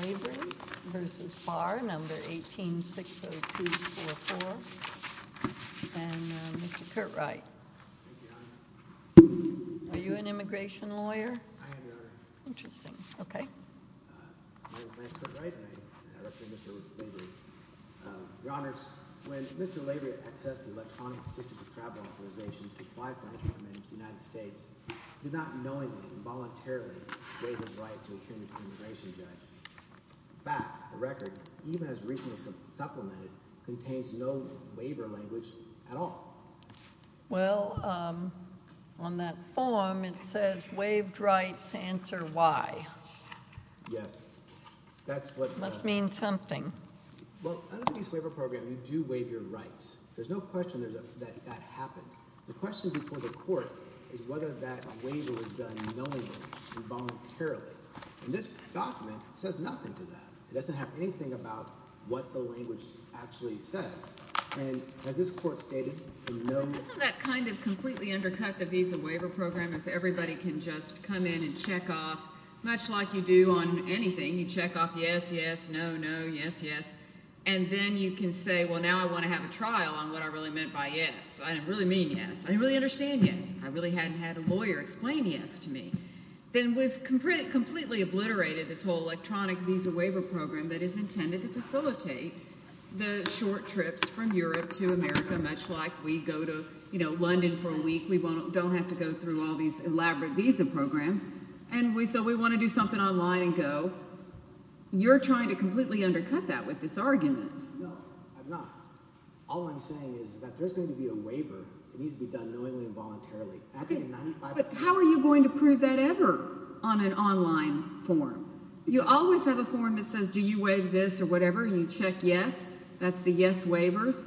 Lavery v. Barr, No. 1860244, and Mr. Curt Wright. Thank you, Your Honor. Are you an immigration lawyer? I am, Your Honor. Interesting. Okay. My name is Lance Curt Wright, and I represent Mr. Lavery. Your Honors, when Mr. Lavery accessed the electronic system of travel authorization to apply for entry to the United States, he did not knowingly and voluntarily waive his right to appear before an immigration judge. In fact, the record, even as recently supplemented, contains no waiver language at all. Well, on that form, it says, waived rights, answer why. Yes. That must mean something. Well, under the Visa Waiver Program, you do waive your rights. There's no question that that happened. The question before the court is whether that waiver was done knowingly and voluntarily. And this document says nothing to that. It doesn't have anything about what the language actually says. And as this court stated, the no – But doesn't that kind of completely undercut the Visa Waiver Program if everybody can just come in and check off, much like you do on anything, you check off yes, yes, no, no, yes, yes, and then you can say, well, now I want to have a trial on what I really meant by yes. I didn't really mean yes. I didn't really understand yes. I really hadn't had a lawyer explain yes to me. Then we've completely obliterated this whole electronic Visa Waiver Program that is intended to facilitate the short trips from Europe to America, much like we go to, you know, London for a week. We don't have to go through all these elaborate visa programs. And so we want to do something online and go. You're trying to completely undercut that with this argument. No, I'm not. All I'm saying is that there's going to be a waiver that needs to be done knowingly and voluntarily. But how are you going to prove that ever on an online form? You always have a form that says do you waive this or whatever. You check yes. That's the yes waivers.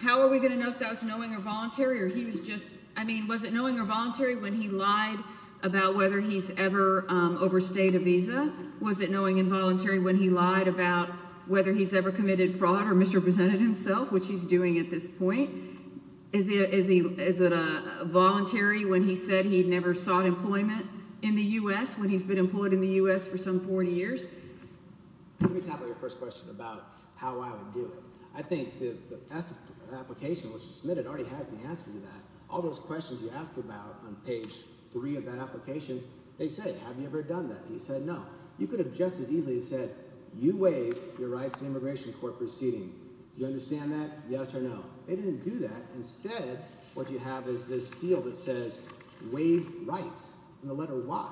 How are we going to know if that was knowing or voluntary or he was just – I mean, was it knowing or voluntary when he lied about whether he's ever overstayed a visa? Was it knowing and voluntary when he lied about whether he's ever committed fraud or misrepresented himself, which he's doing at this point? Is it voluntary when he said he never sought employment in the U.S., when he's been employed in the U.S. for some 40 years? Let me tackle your first question about how I would do it. I think the application was submitted already has the answer to that. All those questions you asked about on page three of that application, they said, have you ever done that? You said no. You could have just as easily said you waive your rights to immigration court proceeding. Do you understand that, yes or no? They didn't do that. Instead, what you have is this field that says waive rights and the letter Y.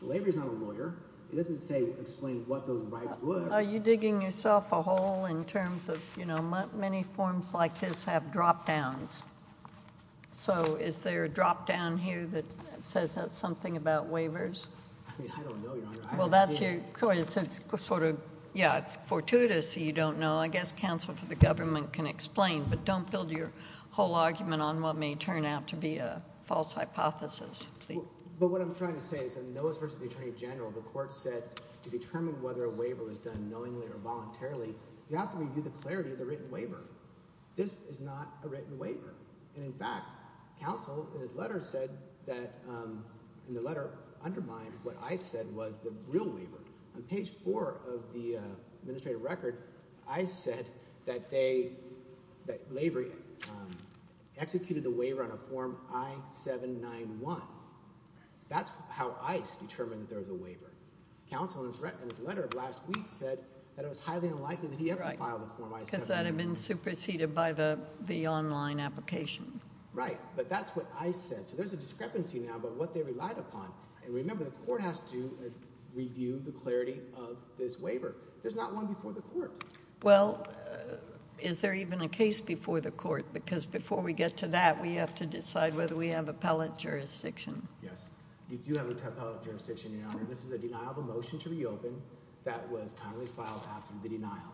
So Lavery's not a lawyer. It doesn't say explain what those rights were. Are you digging yourself a hole in terms of, you know, many forms like this have drop-downs. So is there a drop-down here that says that's something about waivers? I don't know, Your Honor. I haven't seen it. Yeah, it's fortuitous that you don't know. I guess counsel for the government can explain, but don't build your whole argument on what may turn out to be a false hypothesis. But what I'm trying to say is that in Noahs v. the Attorney General, the court said to determine whether a waiver was done knowingly or voluntarily, you have to review the clarity of the written waiver. This is not a written waiver. And, in fact, counsel in his letter said that in the letter undermined what I said was the real waiver. On page four of the administrative record, ICE said that Lavery executed the waiver on a form I-791. That's how ICE determined that there was a waiver. Counsel in his letter of last week said that it was highly unlikely that he ever filed a form I-791. Right, because that had been superseded by the online application. Right, but that's what ICE said. So there's a discrepancy now about what they relied upon. And remember, the court has to review the clarity of this waiver. There's not one before the court. Well, is there even a case before the court? Because before we get to that, we have to decide whether we have appellate jurisdiction. Yes, you do have appellate jurisdiction, Your Honor. This is a denial of a motion to reopen that was timely filed after the denial.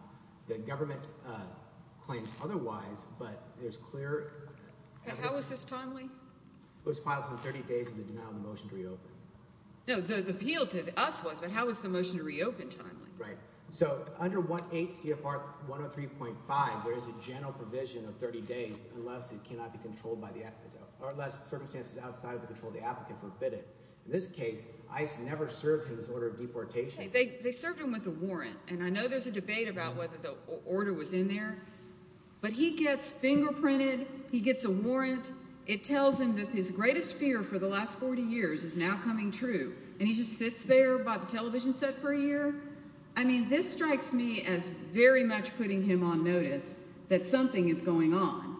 The government claims otherwise, but there's clear – How is this timely? It was filed within 30 days of the denial of the motion to reopen. No, the appeal to us was, but how was the motion to reopen timely? Right. So under 1-8 CFR 103.5, there is a general provision of 30 days unless it cannot be controlled by the – or unless circumstances outside of the control of the applicant forbid it. In this case, ICE never served him this order of deportation. They served him with a warrant, and I know there's a debate about whether the order was in there. But he gets fingerprinted. He gets a warrant. It tells him that his greatest fear for the last 40 years is now coming true, and he just sits there by the television set for a year. I mean, this strikes me as very much putting him on notice that something is going on.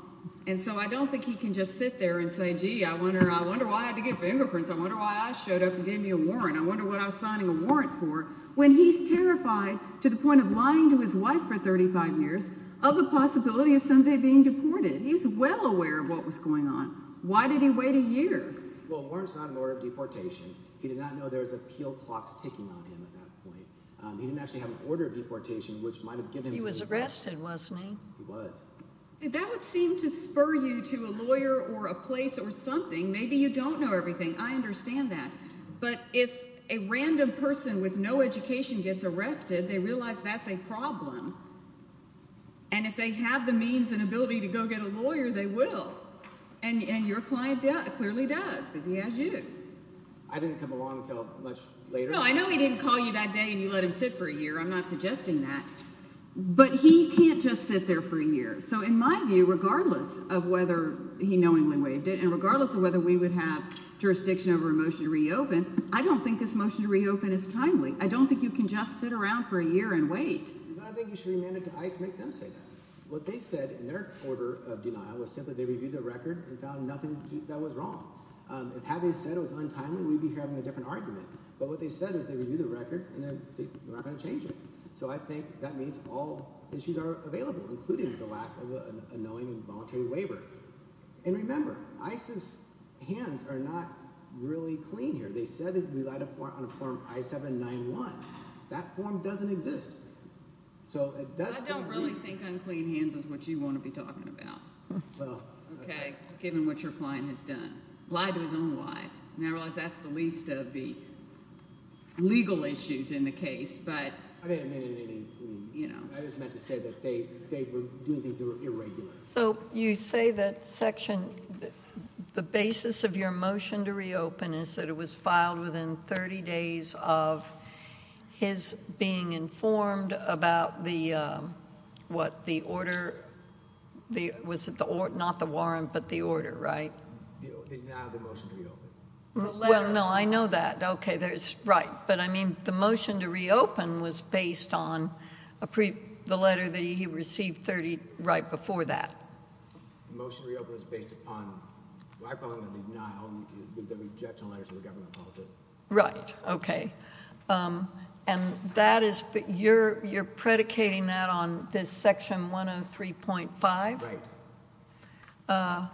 And so I don't think he can just sit there and say, gee, I wonder why I had to get fingerprints. I wonder why I showed up and gave me a warrant. I wonder what I was signing a warrant for. When he's terrified to the point of lying to his wife for 35 years of the possibility of someday being deported. He's well aware of what was going on. Why did he wait a year? Well, a warrant is not an order of deportation. He did not know there was appeal clocks ticking on him at that point. He didn't actually have an order of deportation, which might have given him – He was arrested, wasn't he? He was. That would seem to spur you to a lawyer or a place or something. Maybe you don't know everything. I understand that. But if a random person with no education gets arrested, they realize that's a problem. And if they have the means and ability to go get a lawyer, they will. And your client clearly does because he has you. I didn't come along until much later. No, I know he didn't call you that day and you let him sit for a year. I'm not suggesting that. But he can't just sit there for a year. So in my view, regardless of whether he knowingly waived it and regardless of whether we would have jurisdiction over a motion to reopen, I don't think this motion to reopen is timely. I don't think you can just sit around for a year and wait. I think you should remand it to ICE to make them say that. What they said in their order of denial was simply they reviewed the record and found nothing that was wrong. Had they said it was untimely, we'd be having a different argument. But what they said is they reviewed the record, and they're not going to change it. So I think that means all issues are available, including the lack of a knowingly voluntary waiver. And remember, ICE's hands are not really clean here. They said it relied on a form I-791. That form doesn't exist. So it does – I don't really think unclean hands is what you want to be talking about given what your client has done. Lied to his own wife, and I realize that's the least of the legal issues in the case. I just meant to say that they were doing things that were irregular. So you say that section – the basis of your motion to reopen is that it was filed within 30 days of his being informed about the – what? The order – was it the – not the warrant, but the order, right? The denial of the motion to reopen. Well, no, I know that. Okay, there's – right. But, I mean, the motion to reopen was based on the letter that he received 30 – right before that. The motion to reopen is based upon – well, I probably would have denied all the objection letters that the government posted. Right. Okay. And that is – you're predicating that on this section 103.5? Right.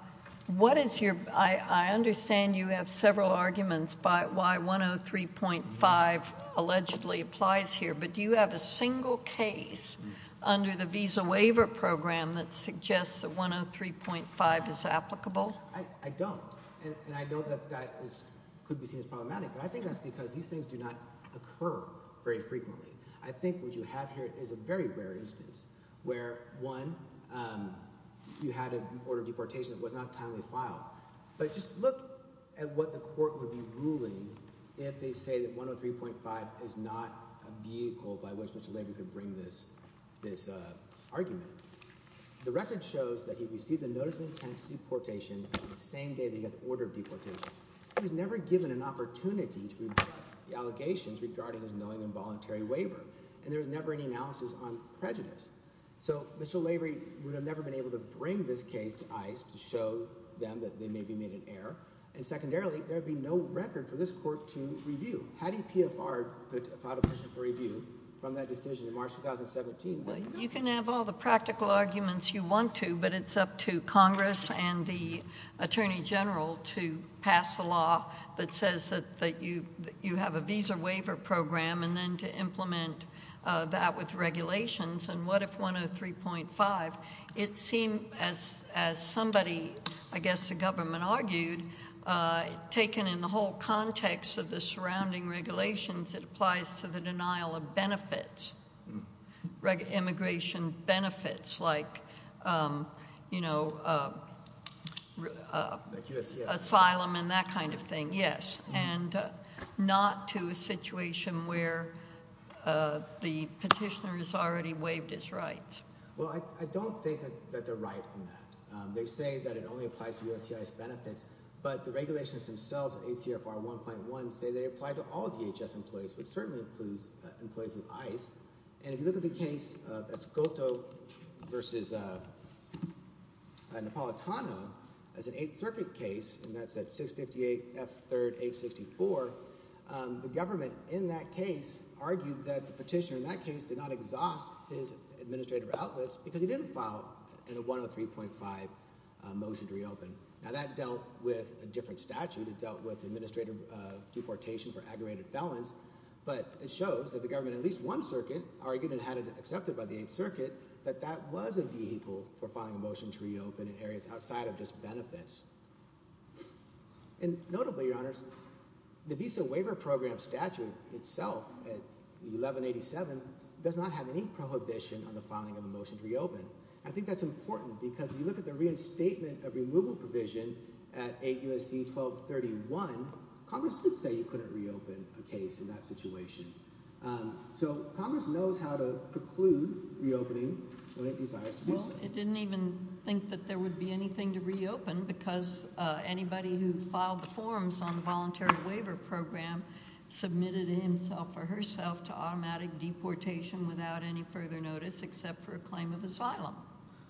What is your – I understand you have several arguments by why 103.5 allegedly applies here, but do you have a single case under the Visa Waiver Program that suggests that 103.5 is applicable? I don't, and I know that that is – could be seen as problematic, but I think that's because these things do not occur very frequently. I think what you have here is a very rare instance where, one, you had an order of deportation that was not timely filed. But just look at what the court would be ruling if they say that 103.5 is not a vehicle by which the labor could bring this argument. The record shows that he received a notice of intent to deportation on the same day that he got the order of deportation. He was never given an opportunity to reflect the allegations regarding his knowing involuntary waiver, and there was never any analysis on prejudice. So Mr. Lavery would have never been able to bring this case to ICE to show them that they maybe made an error, and secondarily, there would be no record for this court to review. How do you PFR the final position for review from that decision in March 2017? Well, you can have all the practical arguments you want to, but it's up to Congress and the Attorney General to pass a law that says that you have a visa waiver program and then to implement that with regulations, and what if 103.5? It seemed as somebody, I guess the government argued, taken in the whole context of the surrounding regulations, it applies to the denial of benefits, immigration benefits like asylum and that kind of thing, yes, and not to a situation where the petitioner has already waived his rights. Well, I don't think that they're right in that. They say that it only applies to USCIS benefits, but the regulations themselves in ACFR 1.1 say they apply to all DHS employees, which certainly includes employees in ICE, and if you look at the case of Escoto v. Napolitano as an Eighth Circuit case, and that's at 658 F. 3rd. 864, the government in that case argued that the petitioner in that case did not exhaust his administrative outlets because he didn't file a 103.5 motion to reopen. Now, that dealt with a different statute. It dealt with administrative deportation for aggravated felons, but it shows that the government in at least one circuit argued and had it accepted by the Eighth Circuit that that was a vehicle for filing a motion to reopen in areas outside of just benefits. And notably, Your Honors, the visa waiver program statute itself at 1187 does not have any prohibition on the filing of a motion to reopen. I think that's important because if you look at the reinstatement of removal provision at 8 U.S.C. 1231, Congress did say you couldn't reopen a case in that situation. So Congress knows how to preclude reopening when it desires to do so. Well, it didn't even think that there would be anything to reopen because anybody who filed the forms on the voluntary waiver program submitted himself or herself to automatic deportation without any further notice except for a claim of asylum.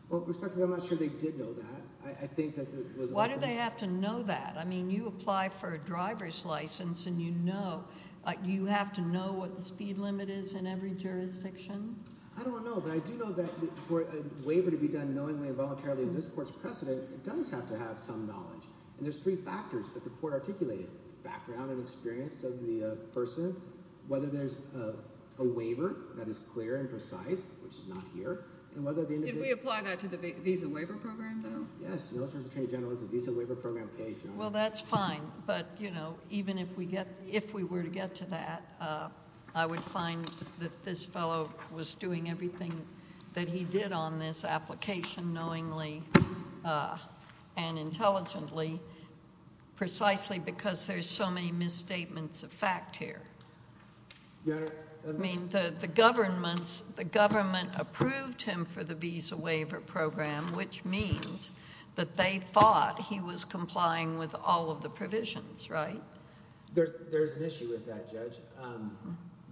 Well, Respectfully, I'm not sure they did know that. Why do they have to know that? I mean, you apply for a driver's license, and you have to know what the speed limit is in every jurisdiction? I don't know, but I do know that for a waiver to be done knowingly and voluntarily in this court's precedent, it does have to have some knowledge. And there's three factors that the court articulated, background and experience of the person, whether there's a waiver that is clear and precise, which is not here. Did we apply that to the visa waiver program, though? Yes, the military attorney general has a visa waiver program case. Well, that's fine, but even if we were to get to that, I would find that this fellow was doing everything that he did on this application knowingly and intelligently precisely because there's so many misstatements of fact here. I mean, the government approved him for the visa waiver program, which means that they thought he was complying with all of the provisions, right? There's an issue with that, Judge.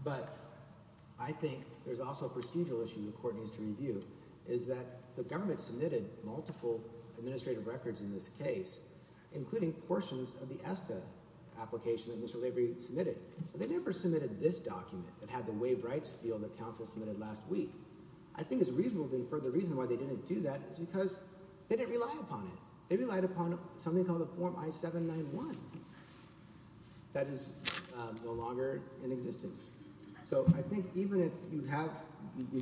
But I think there's also a procedural issue the court needs to review, is that the government submitted multiple administrative records in this case, including portions of the ESTA application that Mr. Lavery submitted. They never submitted this document that had the waived rights field that counsel submitted last week. I think it's reasonable to infer the reason why they didn't do that is because they didn't rely upon it. They relied upon something called a Form I-791. That is no longer in existence. So I think even if you have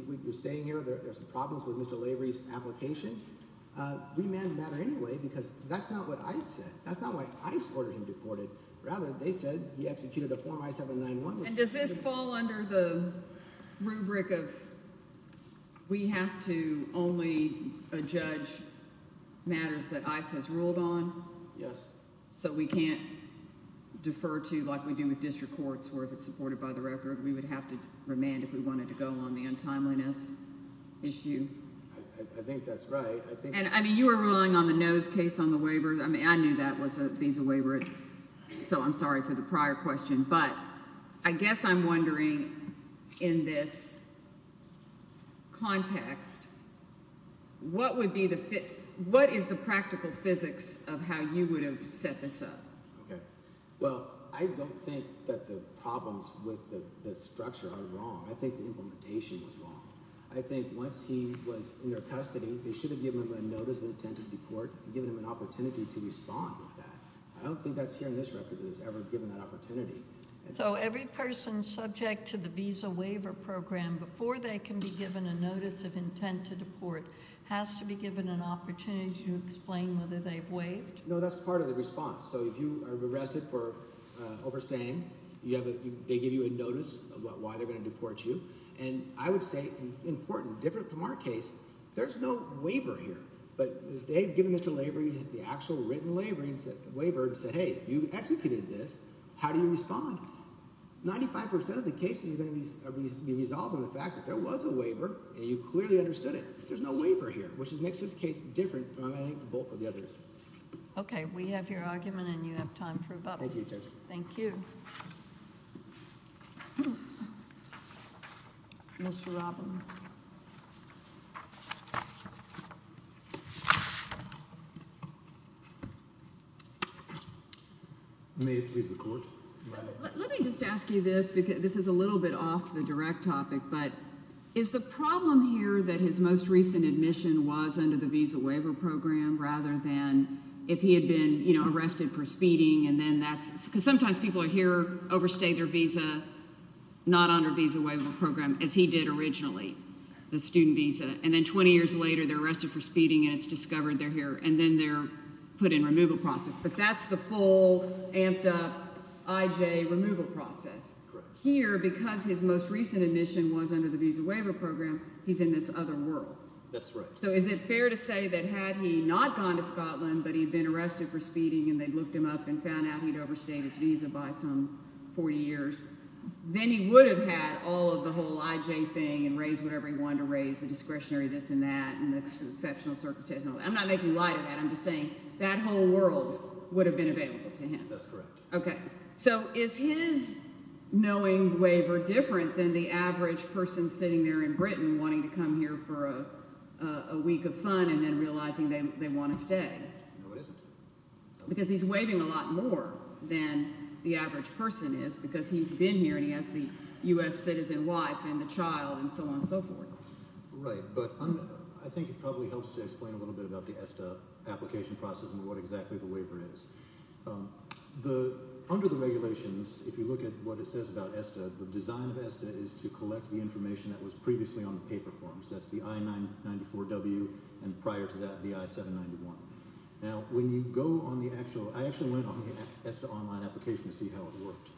what you're saying here, there's problems with Mr. Lavery's application, we may not matter anyway because that's not what ICE said. That's not why ICE ordered him deported. Rather, they said we executed a Form I-791. And does this fall under the rubric of we have to only adjudge matters that ICE has ruled on? Yes. So we can't defer to like we do with district courts where if it's supported by the record, we would have to remand if we wanted to go on the untimeliness issue? I think that's right. I mean you were relying on the NOS case on the waiver. I mean I knew that was a visa waiver, so I'm sorry for the prior question. But I guess I'm wondering in this context, what would be the – what is the practical physics of how you would have set this up? Well, I don't think that the problems with the structure are wrong. I think the implementation was wrong. I think once he was in their custody, they should have given him a notice of intent to deport and given him an opportunity to respond with that. I don't think that's here in this record that it was ever given that opportunity. So every person subject to the visa waiver program, before they can be given a notice of intent to deport, has to be given an opportunity to explain whether they've waived? No, that's part of the response. So if you are arrested for overstaying, they give you a notice about why they're going to deport you. And I would say important, different from our case, there's no waiver here. But they've given Mr. Lavery the actual written waiver and said, hey, you executed this. How do you respond? Ninety-five percent of the cases are going to be resolved on the fact that there was a waiver and you clearly understood it. There's no waiver here, which makes this case different from, I think, the bulk of the others. Okay. We have your argument and you have time to rebut. Thank you, Judge. Thank you. Thank you. Mr. Robbins. May it please the Court. Let me just ask you this, because this is a little bit off the direct topic, but is the problem here that his most recent admission was under the visa waiver program rather than if he had been arrested for speeding and then that's because sometimes people are here, overstay their visa, not under visa waiver program, as he did originally, the student visa. And then 20 years later they're arrested for speeding and it's discovered they're here and then they're put in removal process. But that's the full amped up IJ removal process. Correct. Here, because his most recent admission was under the visa waiver program, he's in this other world. That's right. So is it fair to say that had he not gone to Scotland but he'd been arrested for speeding and they'd looked him up and found out he'd overstayed his visa by some 40 years, then he would have had all of the whole IJ thing and raised whatever he wanted to raise, the discretionary this and that and the exceptional certificates and all that. I'm not making light of that. I'm just saying that whole world would have been available to him. That's correct. Okay. So is his knowing waiver different than the average person sitting there in Britain wanting to come here for a week of fun and then realizing they want to stay? No, it isn't. Because he's waiving a lot more than the average person is because he's been here and he has the U.S. citizen wife and a child and so on and so forth. Right. But I think it probably helps to explain a little bit about the ESTA application process and what exactly the waiver is. Under the regulations, if you look at what it says about ESTA, the design of ESTA is to collect the information that was previously on the paper forms. That's the I-994W and prior to that the I-791. I actually went on the ESTA online application to see how it worked.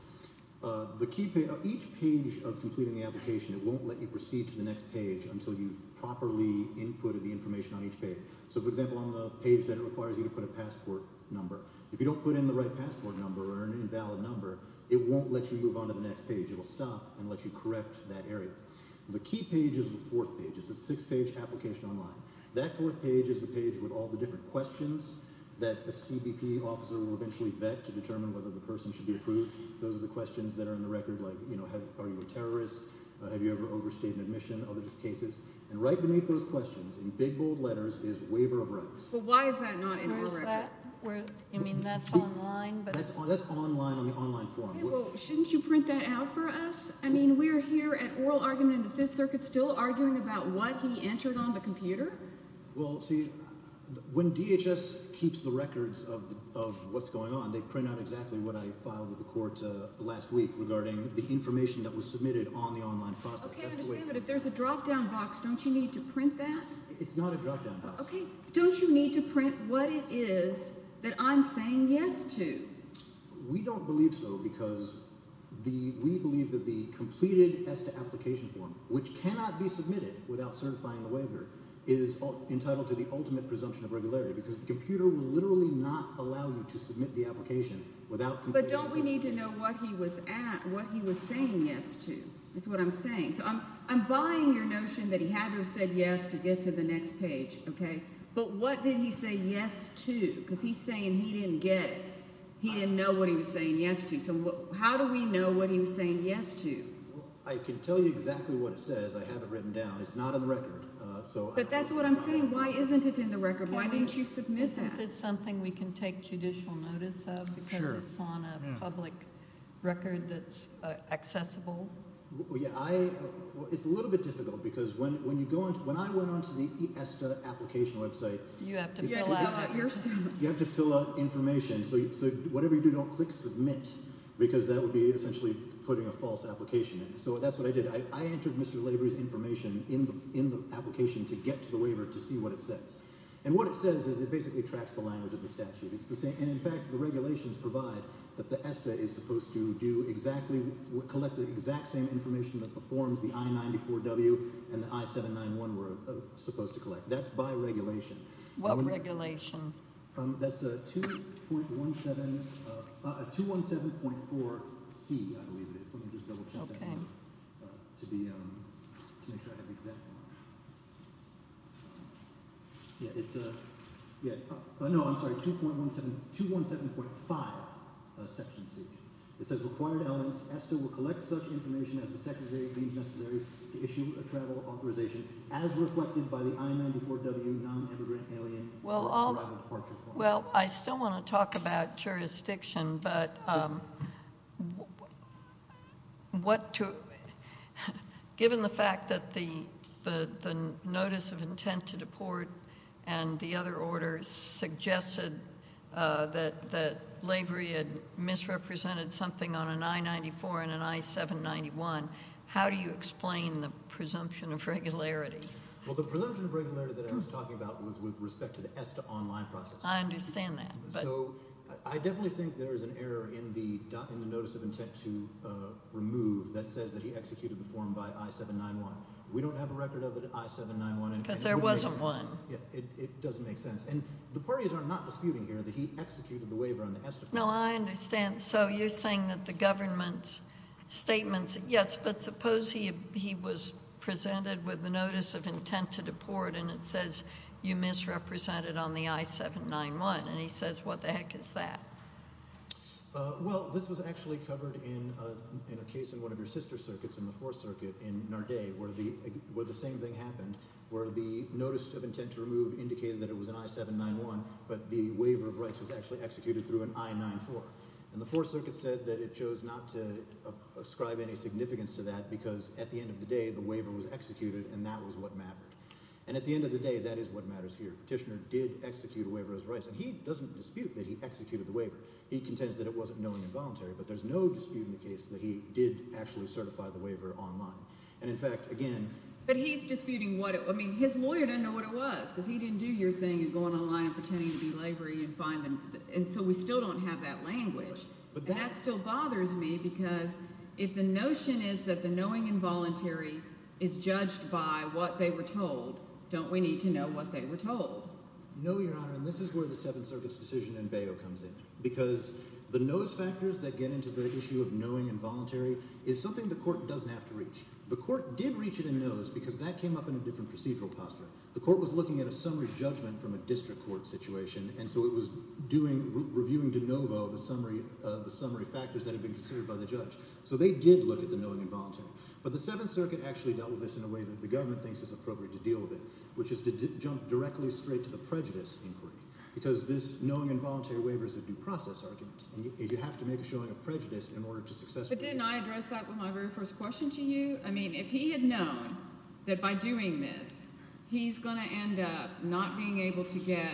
Each page of completing the application, it won't let you proceed to the next page until you've properly inputted the information on each page. So, for example, on the page that it requires you to put a passport number, if you don't put in the right passport number or an invalid number, it won't let you move on to the next page. It will stop and let you correct that area. The key page is the fourth page. It's a six-page application online. That fourth page is the page with all the different questions that the CBP officer will eventually vet to determine whether the person should be approved. Those are the questions that are in the record like, you know, are you a terrorist, have you ever overstayed an admission, other cases. And right beneath those questions, in big, bold letters, is waiver of rights. Well, why is that not in oral record? I mean, that's online. That's online on the online form. Well, shouldn't you print that out for us? I mean, we're here at oral argument in the Fifth Circuit, still arguing about what he entered on the computer. Well, see, when DHS keeps the records of what's going on, they print out exactly what I filed with the court last week regarding the information that was submitted on the online process. Okay, I understand, but if there's a drop-down box, don't you need to print that? It's not a drop-down box. Okay, don't you need to print what it is that I'm saying yes to? We don't believe so because we believe that the completed ESTA application form, which cannot be submitted without certifying the waiver, is entitled to the ultimate presumption of regularity because the computer will literally not allow you to submit the application without completing the form. But don't we need to know what he was saying yes to? That's what I'm saying. So I'm buying your notion that he had to have said yes to get to the next page, okay? But what did he say yes to? Because he's saying he didn't get it. He didn't know what he was saying yes to. So how do we know what he was saying yes to? I can tell you exactly what it says. I have it written down. It's not in the record. But that's what I'm saying. Why isn't it in the record? Why didn't you submit that? Is it something we can take judicial notice of because it's on a public record that's accessible? It's a little bit difficult because when I went on to the ESTA application website, you have to fill out information. So whatever you do, don't click submit because that would be essentially putting a false application in. So that's what I did. I entered Mr. Lavery's information in the application to get to the waiver to see what it says. And what it says is it basically tracks the language of the statute. And, in fact, the regulations provide that the ESTA is supposed to do exactly, collect the exact same information that the forms, the I-94W and the I-791 were supposed to collect. That's by regulation. What regulation? That's 217.4C, I believe it is. Let me just double check to make sure I have the exact one. Yeah, it's a – no, I'm sorry, 217.5 Section C. It says required elements, ESTA will collect such information as the Secretary deems necessary to issue a travel authorization as reflected by the I-94W non-immigrant alien arrival departure clause. Well, I still want to talk about jurisdiction, but what to – given the fact that the notice of intent to deport and the other orders suggested that Lavery had misrepresented something on an I-94 and an I-791, how do you explain the presumption of regularity? Well, the presumption of regularity that I was talking about was with respect to the ESTA online process. I understand that. So I definitely think there is an error in the notice of intent to remove that says that he executed the form by I-791. We don't have a record of it at I-791. Because there wasn't one. Yeah, it doesn't make sense. And the parties are not disputing here that he executed the waiver on the ESTA form. No, I understand. So you're saying that the government's statements – yes, but suppose he was presented with the notice of intent to deport and it says you misrepresented on the I-791. And he says what the heck is that? Well, this was actually covered in a case in one of your sister circuits, in the Fourth Circuit in Narday, where the same thing happened, where the notice of intent to remove indicated that it was an I-791, but the waiver of rights was actually executed through an I-94. And the Fourth Circuit said that it chose not to ascribe any significance to that because at the end of the day the waiver was executed and that was what mattered. And at the end of the day, that is what matters here. Tishner did execute a waiver of rights. And he doesn't dispute that he executed the waiver. He contends that it wasn't knowingly involuntary, but there's no dispute in the case that he did actually certify the waiver online. And, in fact, again – But he's disputing what it – I mean, his lawyer doesn't know what it was because he didn't do your thing of going online and pretending to be lavery and finding – and so we still don't have that language. And that still bothers me because if the notion is that the knowing involuntary is judged by what they were told, don't we need to know what they were told? No, Your Honor, and this is where the Seventh Circuit's decision in Bayo comes in because the notice factors that get into the issue of knowing involuntary is something the court doesn't have to reach. The court did reach it in notice because that came up in a different procedural posture. The court was looking at a summary judgment from a district court situation, and so it was reviewing de novo the summary factors that had been considered by the judge. So they did look at the knowing involuntary. But the Seventh Circuit actually dealt with this in a way that the government thinks is appropriate to deal with it, which is to jump directly straight to the prejudice inquiry because this knowing involuntary waiver is a due process argument, and you have to make a showing of prejudice in order to successfully – But didn't I address that with my very first question to you? I mean if he had known that by doing this he's going to end up not being able to get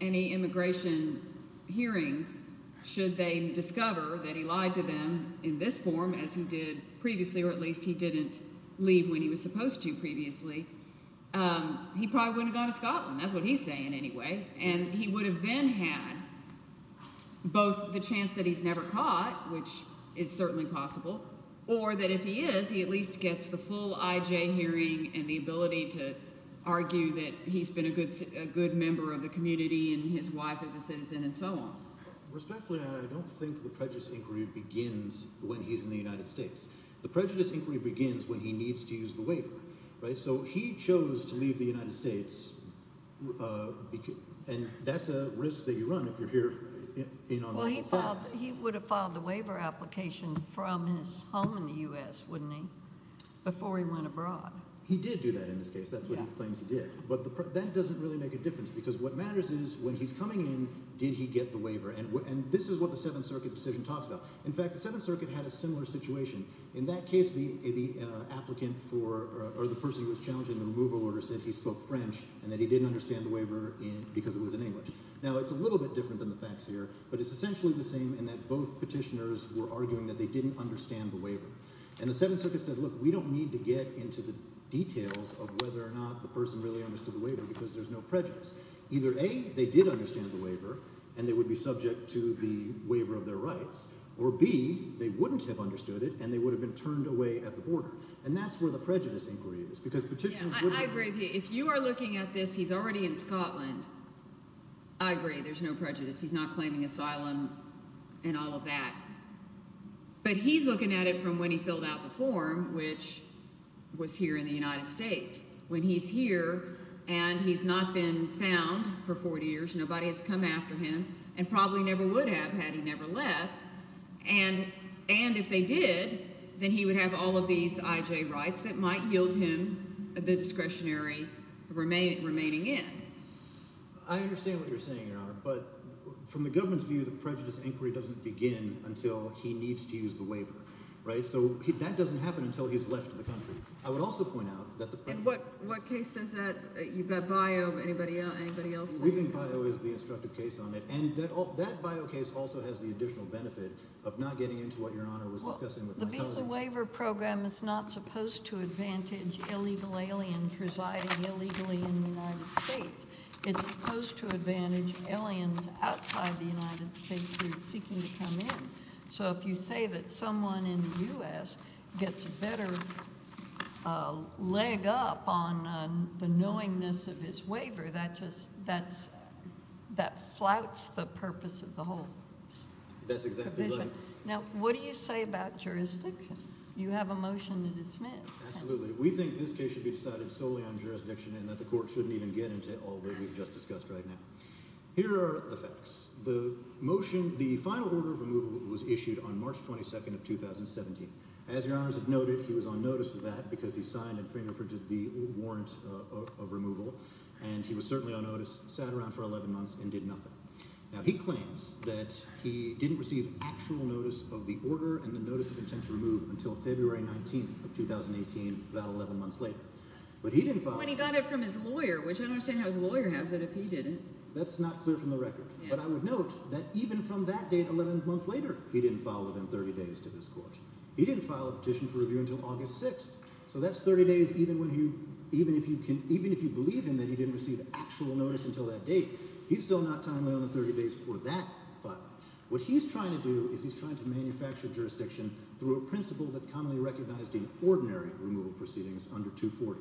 any immigration hearings should they discover that he lied to them in this form as he did previously, or at least he didn't leave when he was supposed to previously, he probably wouldn't have gone to Scotland. That's what he's saying anyway. And he would have then had both the chance that he's never caught, which is certainly possible, or that if he is, he at least gets the full IJ hearing and the ability to argue that he's been a good member of the community and his wife is a citizen and so on. Respectfully, I don't think the prejudice inquiry begins when he's in the United States. The prejudice inquiry begins when he needs to use the waiver, right? So he chose to leave the United States, and that's a risk that you run if you're here in our legal status. He would have filed the waiver application from his home in the U.S., wouldn't he, before he went abroad. He did do that in this case. That's what he claims he did. But that doesn't really make a difference because what matters is when he's coming in, did he get the waiver? And this is what the Seventh Circuit decision talks about. In fact, the Seventh Circuit had a similar situation. In that case, the applicant for or the person who was challenging the removal order said he spoke French and that he didn't understand the waiver because it was in English. Now, it's a little bit different than the facts here, but it's essentially the same in that both petitioners were arguing that they didn't understand the waiver. And the Seventh Circuit said, look, we don't need to get into the details of whether or not the person really understood the waiver because there's no prejudice. Either A, they did understand the waiver and they would be subject to the waiver of their rights, or B, they wouldn't have understood it and they would have been turned away at the border. And that's where the prejudice inquiry is because petitioners wouldn't have… If you are looking at this, he's already in Scotland. I agree there's no prejudice. He's not claiming asylum and all of that. But he's looking at it from when he filled out the form, which was here in the United States. When he's here and he's not been found for 40 years, nobody has come after him and probably never would have had he never left. And if they did, then he would have all of these IJ rights that might yield him the discretionary remaining in. I understand what you're saying, Your Honor, but from the government's view, the prejudice inquiry doesn't begin until he needs to use the waiver. So that doesn't happen until he's left the country. I would also point out that the prejudice… And what case is that? You've got BIO. Anybody else? We think BIO is the instructive case on it. And that BIO case also has the additional benefit of not getting into what Your Honor was discussing with my cousin. The visa waiver program is not supposed to advantage illegal aliens residing illegally in the United States. It's supposed to advantage aliens outside the United States who are seeking to come in. So if you say that someone in the U.S. gets a better leg up on the knowingness of his waiver, that flouts the purpose of the whole provision. That's exactly right. Now, what do you say about jurisdiction? You have a motion to dismiss. Absolutely. We think this case should be decided solely on jurisdiction and that the court shouldn't even get into all that we've just discussed right now. Here are the facts. The motion, the final order of removal was issued on March 22nd of 2017. As Your Honors have noted, he was on notice of that because he signed and fingerprinted the warrant of removal. And he was certainly on notice, sat around for 11 months, and did nothing. Now he claims that he didn't receive actual notice of the order and the notice of intent to remove until February 19th of 2018, about 11 months later. When he got it from his lawyer, which I don't understand how his lawyer has it if he didn't. That's not clear from the record. But I would note that even from that date, 11 months later, he didn't file within 30 days to this court. He didn't file a petition for review until August 6th. So that's 30 days even if you believe him that he didn't receive actual notice until that date. He's still not timely on the 30 days for that file. What he's trying to do is he's trying to manufacture jurisdiction through a principle that's commonly recognized in ordinary removal proceedings under 240.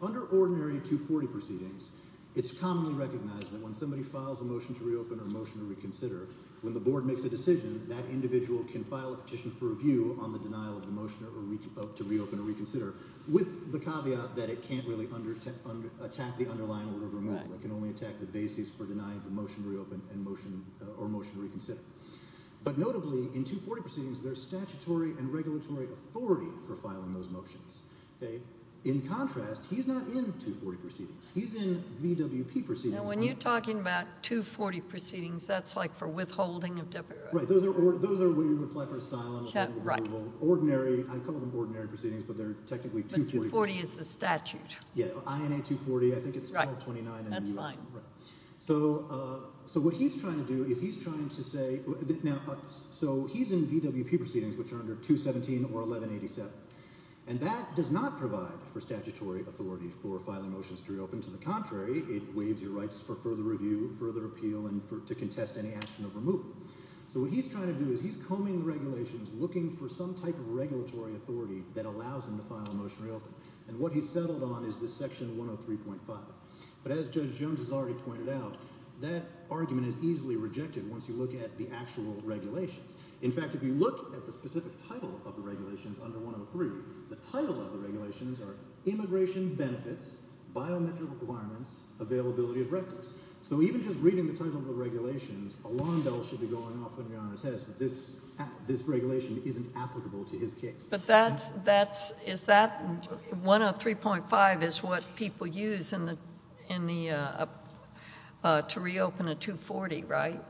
Under ordinary 240 proceedings, it's commonly recognized that when somebody files a motion to reopen or motion to reconsider, when the board makes a decision, that individual can file a petition for review on the denial of the motion to reopen or reconsider, with the caveat that it can't really attack the underlying order of removal. It can only attack the basis for denying the motion to reopen or motion to reconsider. But notably, in 240 proceedings, there's statutory and regulatory authority for filing those motions. In contrast, he's not in 240 proceedings. He's in VWP proceedings. Now, when you're talking about 240 proceedings, that's like for withholding of deputy rights. Right. Those are when you apply for asylum. Ordinary. I call them ordinary proceedings, but they're technically 240. But 240 is the statute. Yeah. INA 240. I think it's 1229 in the U.S. Right. That's fine. So what he's trying to do is he's trying to say – now, so he's in VWP proceedings, which are under 217 or 1187. And that does not provide for statutory authority for filing motions to reopen. To the contrary, it waives your rights for further review, further appeal, and to contest any action of removal. So what he's trying to do is he's combing the regulations, looking for some type of regulatory authority that allows him to file a motion to reopen. And what he's settled on is this Section 103.5. But as Judge Jones has already pointed out, that argument is easily rejected once you look at the actual regulations. In fact, if you look at the specific title of the regulations under 103, the title of the regulations are Immigration Benefits, Biometric Requirements, Availability of Records. So even just reading the title of the regulations, a lawn bell should be going off when your Honor says that this regulation isn't applicable to his case. But that's – is that – 103.5 is what people use in the – to reopen a 240, right?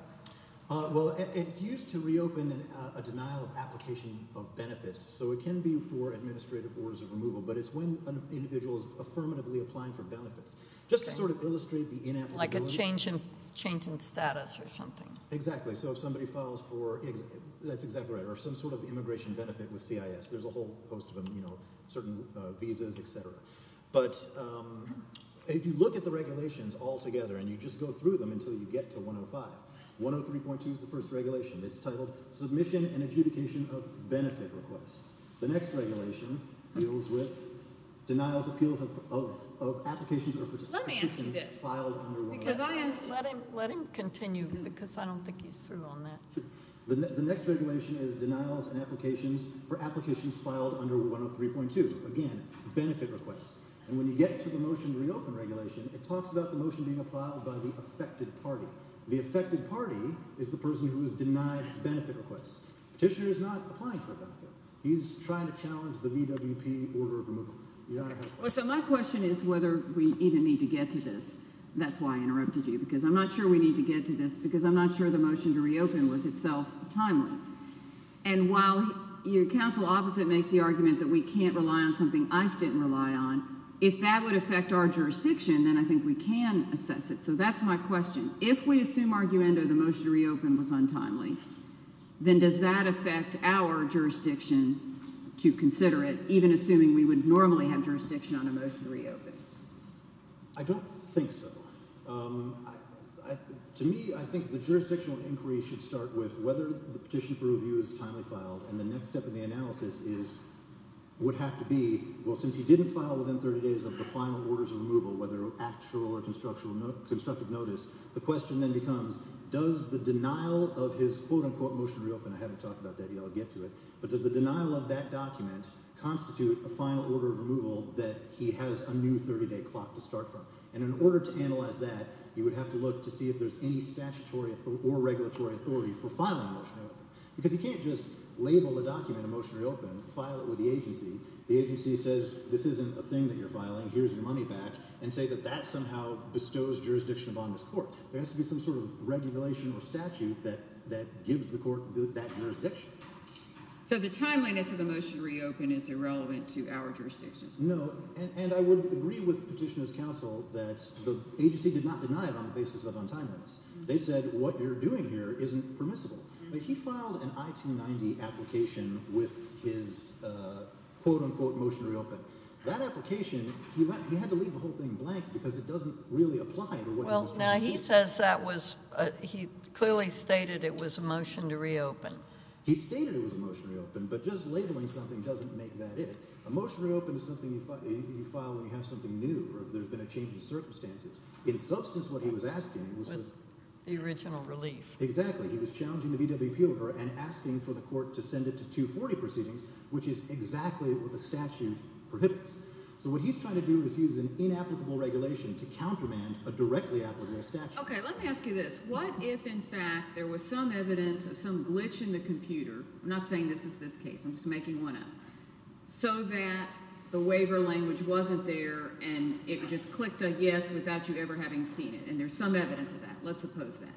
Well, it's used to reopen a denial of application of benefits. So it can be for administrative orders of removal, but it's when an individual is affirmatively applying for benefits. Just to sort of illustrate the inapplicability. Like a change in status or something. Exactly. So if somebody files for – that's exactly right – or some sort of immigration benefit with CIS. There's a whole host of them, you know, certain visas, et cetera. But if you look at the regulations all together and you just go through them until you get to 105. 103.2 is the first regulation. It's titled Submission and Adjudication of Benefit Requests. The next regulation deals with denials, appeals of applications or – Let me ask you this. Because I asked – Let him continue because I don't think he's through on that. The next regulation is Denials and Applications for Applications Filed under 103.2. Again, benefit requests. And when you get to the Motion to Reopen regulation, it talks about the motion being applied by the affected party. The affected party is the person who is denied benefit requests. Petitioner is not applying for a benefit. He's trying to challenge the VWP order of removal. So my question is whether we even need to get to this. That's why I interrupted you because I'm not sure we need to get to this because I'm not sure the Motion to Reopen was itself timely. And while your counsel opposite makes the argument that we can't rely on something ICE didn't rely on, if that would affect our jurisdiction, then I think we can assess it. So that's my question. If we assume arguendo the Motion to Reopen was untimely, then does that affect our jurisdiction to consider it, even assuming we would normally have jurisdiction on a Motion to Reopen? I don't think so. To me, I think the jurisdictional inquiry should start with whether the petition for review is timely filed, and the next step in the analysis is would have to be, well, since he didn't file within 30 days of the final orders of removal, whether actual or constructive notice, the question then becomes, does the denial of his, quote-unquote, Motion to Reopen – I haven't talked about that yet. I'll get to it. But does the denial of that document constitute a final order of removal that he has a new 30-day clock to start from? And in order to analyze that, you would have to look to see if there's any statutory or regulatory authority for filing a Motion to Reopen because you can't just label a document a Motion to Reopen, file it with the agency, the agency says this isn't a thing that you're filing, here's your money back, and say that that somehow bestows jurisdiction upon this court. There has to be some sort of regulation or statute that gives the court that jurisdiction. So the timeliness of the Motion to Reopen is irrelevant to our jurisdiction. No, and I would agree with Petitioner's counsel that the agency did not deny it on the basis of untimeliness. They said what you're doing here isn't permissible. He filed an I-290 application with his, quote-unquote, Motion to Reopen. That application, he had to leave the whole thing blank because it doesn't really apply to what he was trying to do. Well, now he says that was – he clearly stated it was a Motion to Reopen. He stated it was a Motion to Reopen, but just labeling something doesn't make that it. A Motion to Reopen is something you file when you have something new or if there's been a change in circumstances. In substance, what he was asking was – The original relief. Exactly. He was challenging the VWP over and asking for the court to send it to 240 proceedings, which is exactly what the statute prohibits. So what he's trying to do is use an inapplicable regulation to countermand a directly applicable statute. Okay, let me ask you this. What if, in fact, there was some evidence of some glitch in the computer? I'm not saying this is this case. I'm just making one up. So that the waiver language wasn't there and it just clicked a yes without you ever having seen it, and there's some evidence of that. Let's suppose that.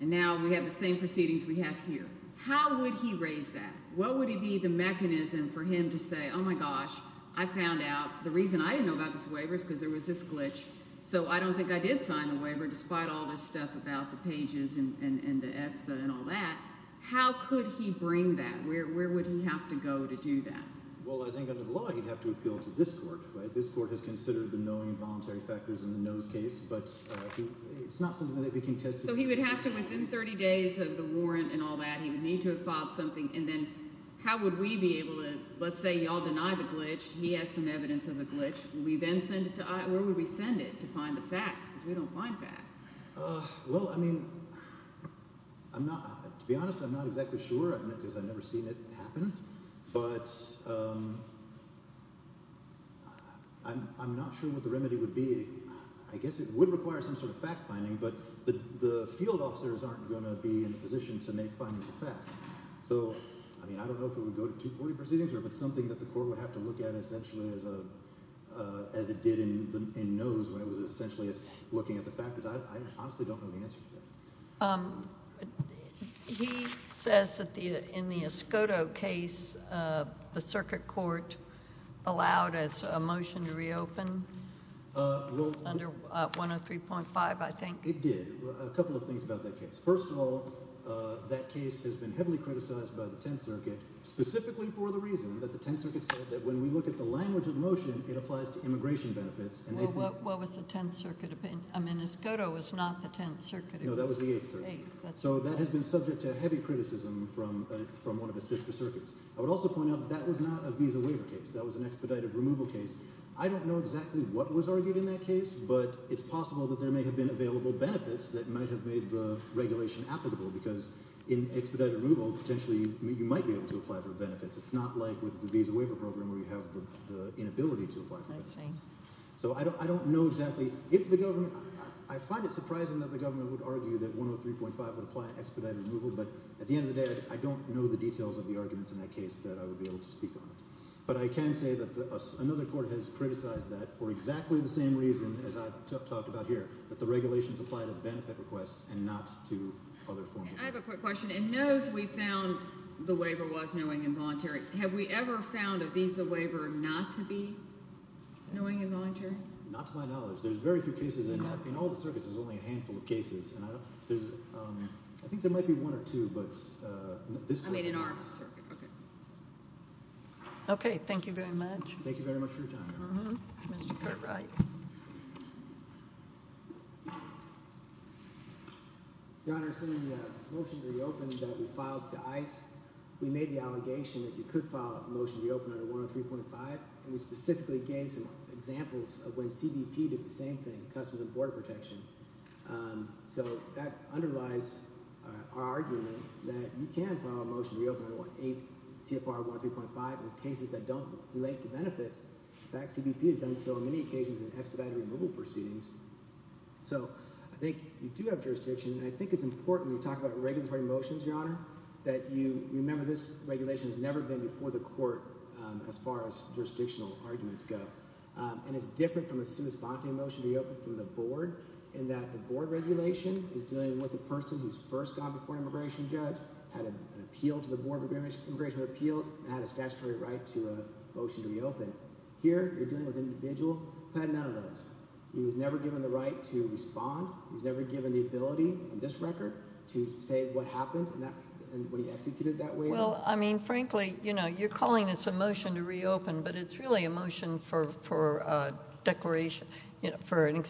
And now we have the same proceedings we have here. How would he raise that? What would be the mechanism for him to say, oh, my gosh, I found out. The reason I didn't know about this waiver is because there was this glitch, so I don't think I did sign the waiver despite all this stuff about the pages and the ETSA and all that. How could he bring that? Where would he have to go to do that? Well, I think under the law he'd have to appeal to this court. This court has considered the knowing involuntary factors in the knows case. But it's not something that we can test. So he would have to, within 30 days of the warrant and all that, he would need to have filed something. And then how would we be able to, let's say you all deny the glitch. He has some evidence of a glitch. Where would we send it to find the facts? Because we don't find facts. Well, I mean, to be honest, I'm not exactly sure because I've never seen it happen. But I'm not sure what the remedy would be. I guess it would require some sort of fact-finding, but the field officers aren't going to be in a position to make findings of fact. So, I mean, I don't know if it would go to 240 proceedings or if it's something that the court would have to look at essentially as it did in knows when it was essentially looking at the factors. I honestly don't know the answer to that. He says that in the Escoto case, the circuit court allowed a motion to reopen under 103.5, I think. It did. A couple of things about that case. First of all, that case has been heavily criticized by the Tenth Circuit specifically for the reason that the Tenth Circuit said that when we look at the language of the motion, it applies to immigration benefits. Well, what was the Tenth Circuit opinion? I mean, Escoto was not the Tenth Circuit opinion. No, that was the Eighth Circuit. So that has been subject to heavy criticism from one of the sister circuits. I would also point out that that was not a visa waiver case. That was an expedited removal case. I don't know exactly what was argued in that case, but it's possible that there may have been available benefits that might have made the regulation applicable because in expedited removal, potentially you might be able to apply for benefits. It's not like with the visa waiver program where you have the inability to apply for benefits. I see. So I don't know exactly if the government – I find it surprising that the government would argue that 103.5 would apply in expedited removal, but at the end of the day, I don't know the details of the arguments in that case that I would be able to speak on. But I can say that another court has criticized that for exactly the same reason as I've talked about here, that the regulations apply to benefit requests and not to other forms of benefits. I have a quick question. It knows we found the waiver was knowing and voluntary. Have we ever found a visa waiver not to be knowing and voluntary? Not to my knowledge. There's very few cases. In all the circuits, there's only a handful of cases. I think there might be one or two, but not this one. I mean in our circuit. Okay. Okay. Thank you very much. Thank you very much for your time. Mr. Cartwright. Your Honor, in the motion to reopen that we filed to ICE, we made the allegation that you could file a motion to reopen under 103.5, and we specifically gave some examples of when CBP did the same thing, Customs and Border Protection. So that underlies our argument that you can file a motion to reopen under CFR 103.5 in cases that don't relate to benefits. In fact, CBP has done so on many occasions in expedited removal proceedings. So I think you do have jurisdiction, and I think it's important when you talk about regulatory motions, Your Honor, that you remember this regulation has never been before the court as far as jurisdictional arguments go. And it's different from a sui sponte motion to reopen from the board in that the board regulation is dealing with a person who's first gone before an immigration judge, had an appeal to the Board of Immigration Appeals, and had a statutory right to a motion to reopen. Here, you're dealing with an individual who had none of those. He was never given the right to respond. He was never given the ability on this record to say what happened when he executed that waiver. Well, I mean, frankly, you're calling this a motion to reopen, but it's really a motion for a declaration for an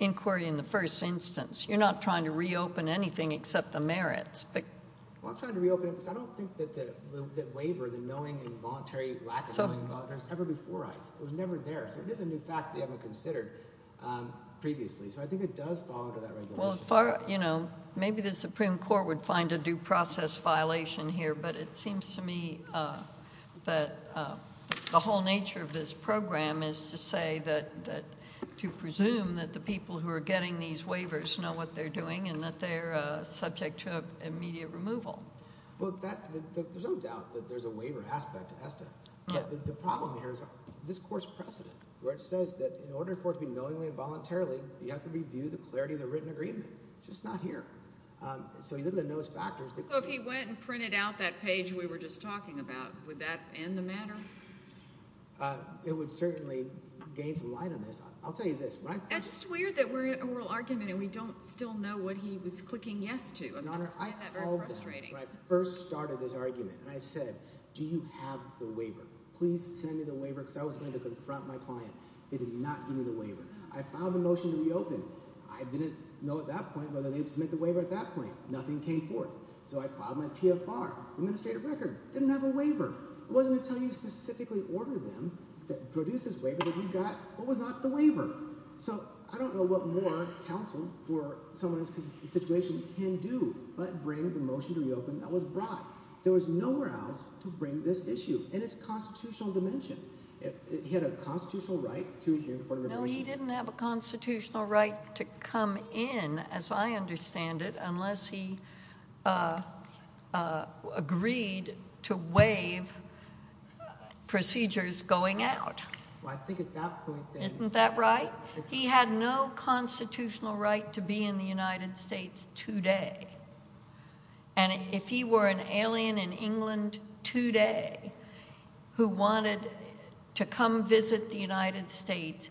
inquiry in the first instance. You're not trying to reopen anything except the merits. Well, I'm trying to reopen it because I don't think that the waiver, the knowing and voluntary lack of knowing and voluntary, was ever before ICE. It was never there. So it is a new fact that they haven't considered previously. So I think it does fall under that regulation. Well, as far as, you know, maybe the Supreme Court would find a due process violation here, but it seems to me that the whole nature of this program is to say that, to presume that the people who are getting these waivers know what they're doing and that they're subject to immediate removal. Well, there's no doubt that there's a waiver aspect to ESTA. The problem here is this court's precedent, where it says that in order for it to be knowingly and voluntarily, you have to review the clarity of the written agreement. It's just not here. So you look at those factors. So if he went and printed out that page we were just talking about, would that end the matter? It would certainly gain some light on this. I'll tell you this. It's weird that we're in an oral argument and we don't still know what he was clicking yes to. I find that very frustrating. Your Honor, I called them when I first started this argument, and I said, do you have the waiver? Please send me the waiver because I was going to confront my client. They did not give me the waiver. I filed a motion to reopen. I didn't know at that point whether they had submitted the waiver at that point. Nothing came forth. So I filed my PFR, administrative record. Didn't have a waiver. It wasn't until you specifically ordered them to produce this waiver that you got what was not the waiver. So I don't know what more counsel for someone in this situation can do but bring the motion to reopen that was brought. There was nowhere else to bring this issue. And it's constitutional dimension. He had a constitutional right to hear the court of revolutions. No, he didn't have a constitutional right to come in, as I understand it, unless he agreed to waive procedures going out. Isn't that right? He had no constitutional right to be in the United States today. And if he were an alien in England today who wanted to come visit the United States,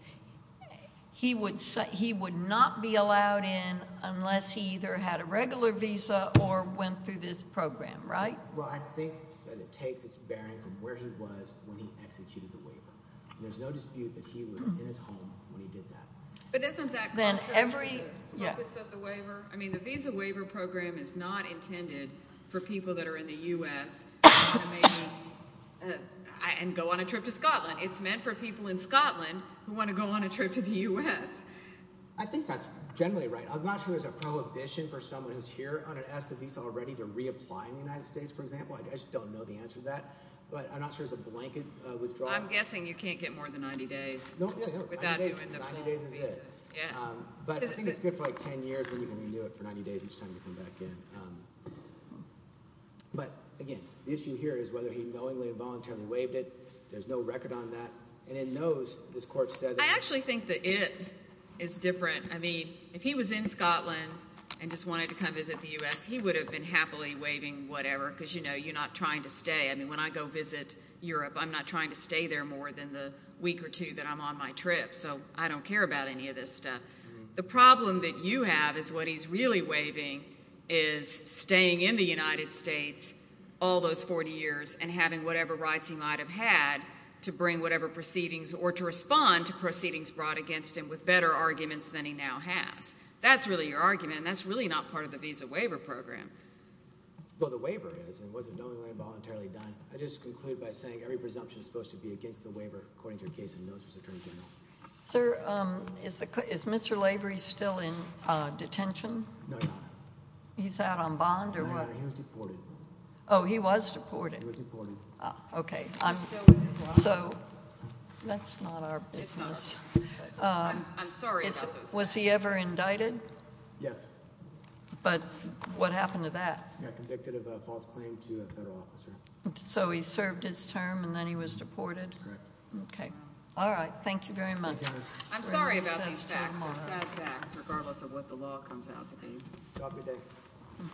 he would not be allowed in unless he either had a regular visa or went through this program, right? Well, I think that it takes its bearing from where he was when he executed the waiver. There's no dispute that he was in his home when he did that. But isn't that contrary to the purpose of the waiver? I mean the visa waiver program is not intended for people that are in the U.S. and go on a trip to Scotland. It's meant for people in Scotland who want to go on a trip to the U.S. I think that's generally right. I'm not sure there's a prohibition for someone who's here on an ESTA visa already to reapply in the United States, for example. I just don't know the answer to that. But I'm not sure there's a blanket withdrawal. I'm guessing you can't get more than 90 days without doing the full visa. 90 days is it. But I think it's good for like 10 years and you can renew it for 90 days each time you come back in. But, again, the issue here is whether he knowingly or voluntarily waived it. There's no record on that. And it knows – this court said that – I actually think that it is different. I mean if he was in Scotland and just wanted to come visit the U.S., he would have been happily waiving whatever because, you know, you're not trying to stay. I mean when I go visit Europe, I'm not trying to stay there more than the week or two that I'm on my trip. So I don't care about any of this stuff. The problem that you have is what he's really waiving is staying in the United States all those 40 years and having whatever rights he might have had to bring whatever proceedings or to respond to proceedings brought against him with better arguments than he now has. That's really your argument, and that's really not part of the visa waiver program. Well, the waiver is, and it wasn't knowingly or voluntarily done. I just conclude by saying every presumption is supposed to be against the waiver, according to your case of notice, Attorney General. Sir, is Mr. Lavery still in detention? No, Your Honor. He's out on bond or what? No, Your Honor, he was deported. Oh, he was deported. He was deported. Okay. So that's not our business. I'm sorry about those facts. Was he ever indicted? Yes. But what happened to that? Yeah, convicted of a false claim to a federal officer. So he served his term and then he was deported? Okay. All right. Thank you very much. Thank you, Your Honor. I'm sorry about these facts. They're sad facts regardless of what the law comes out to be. Have a good day.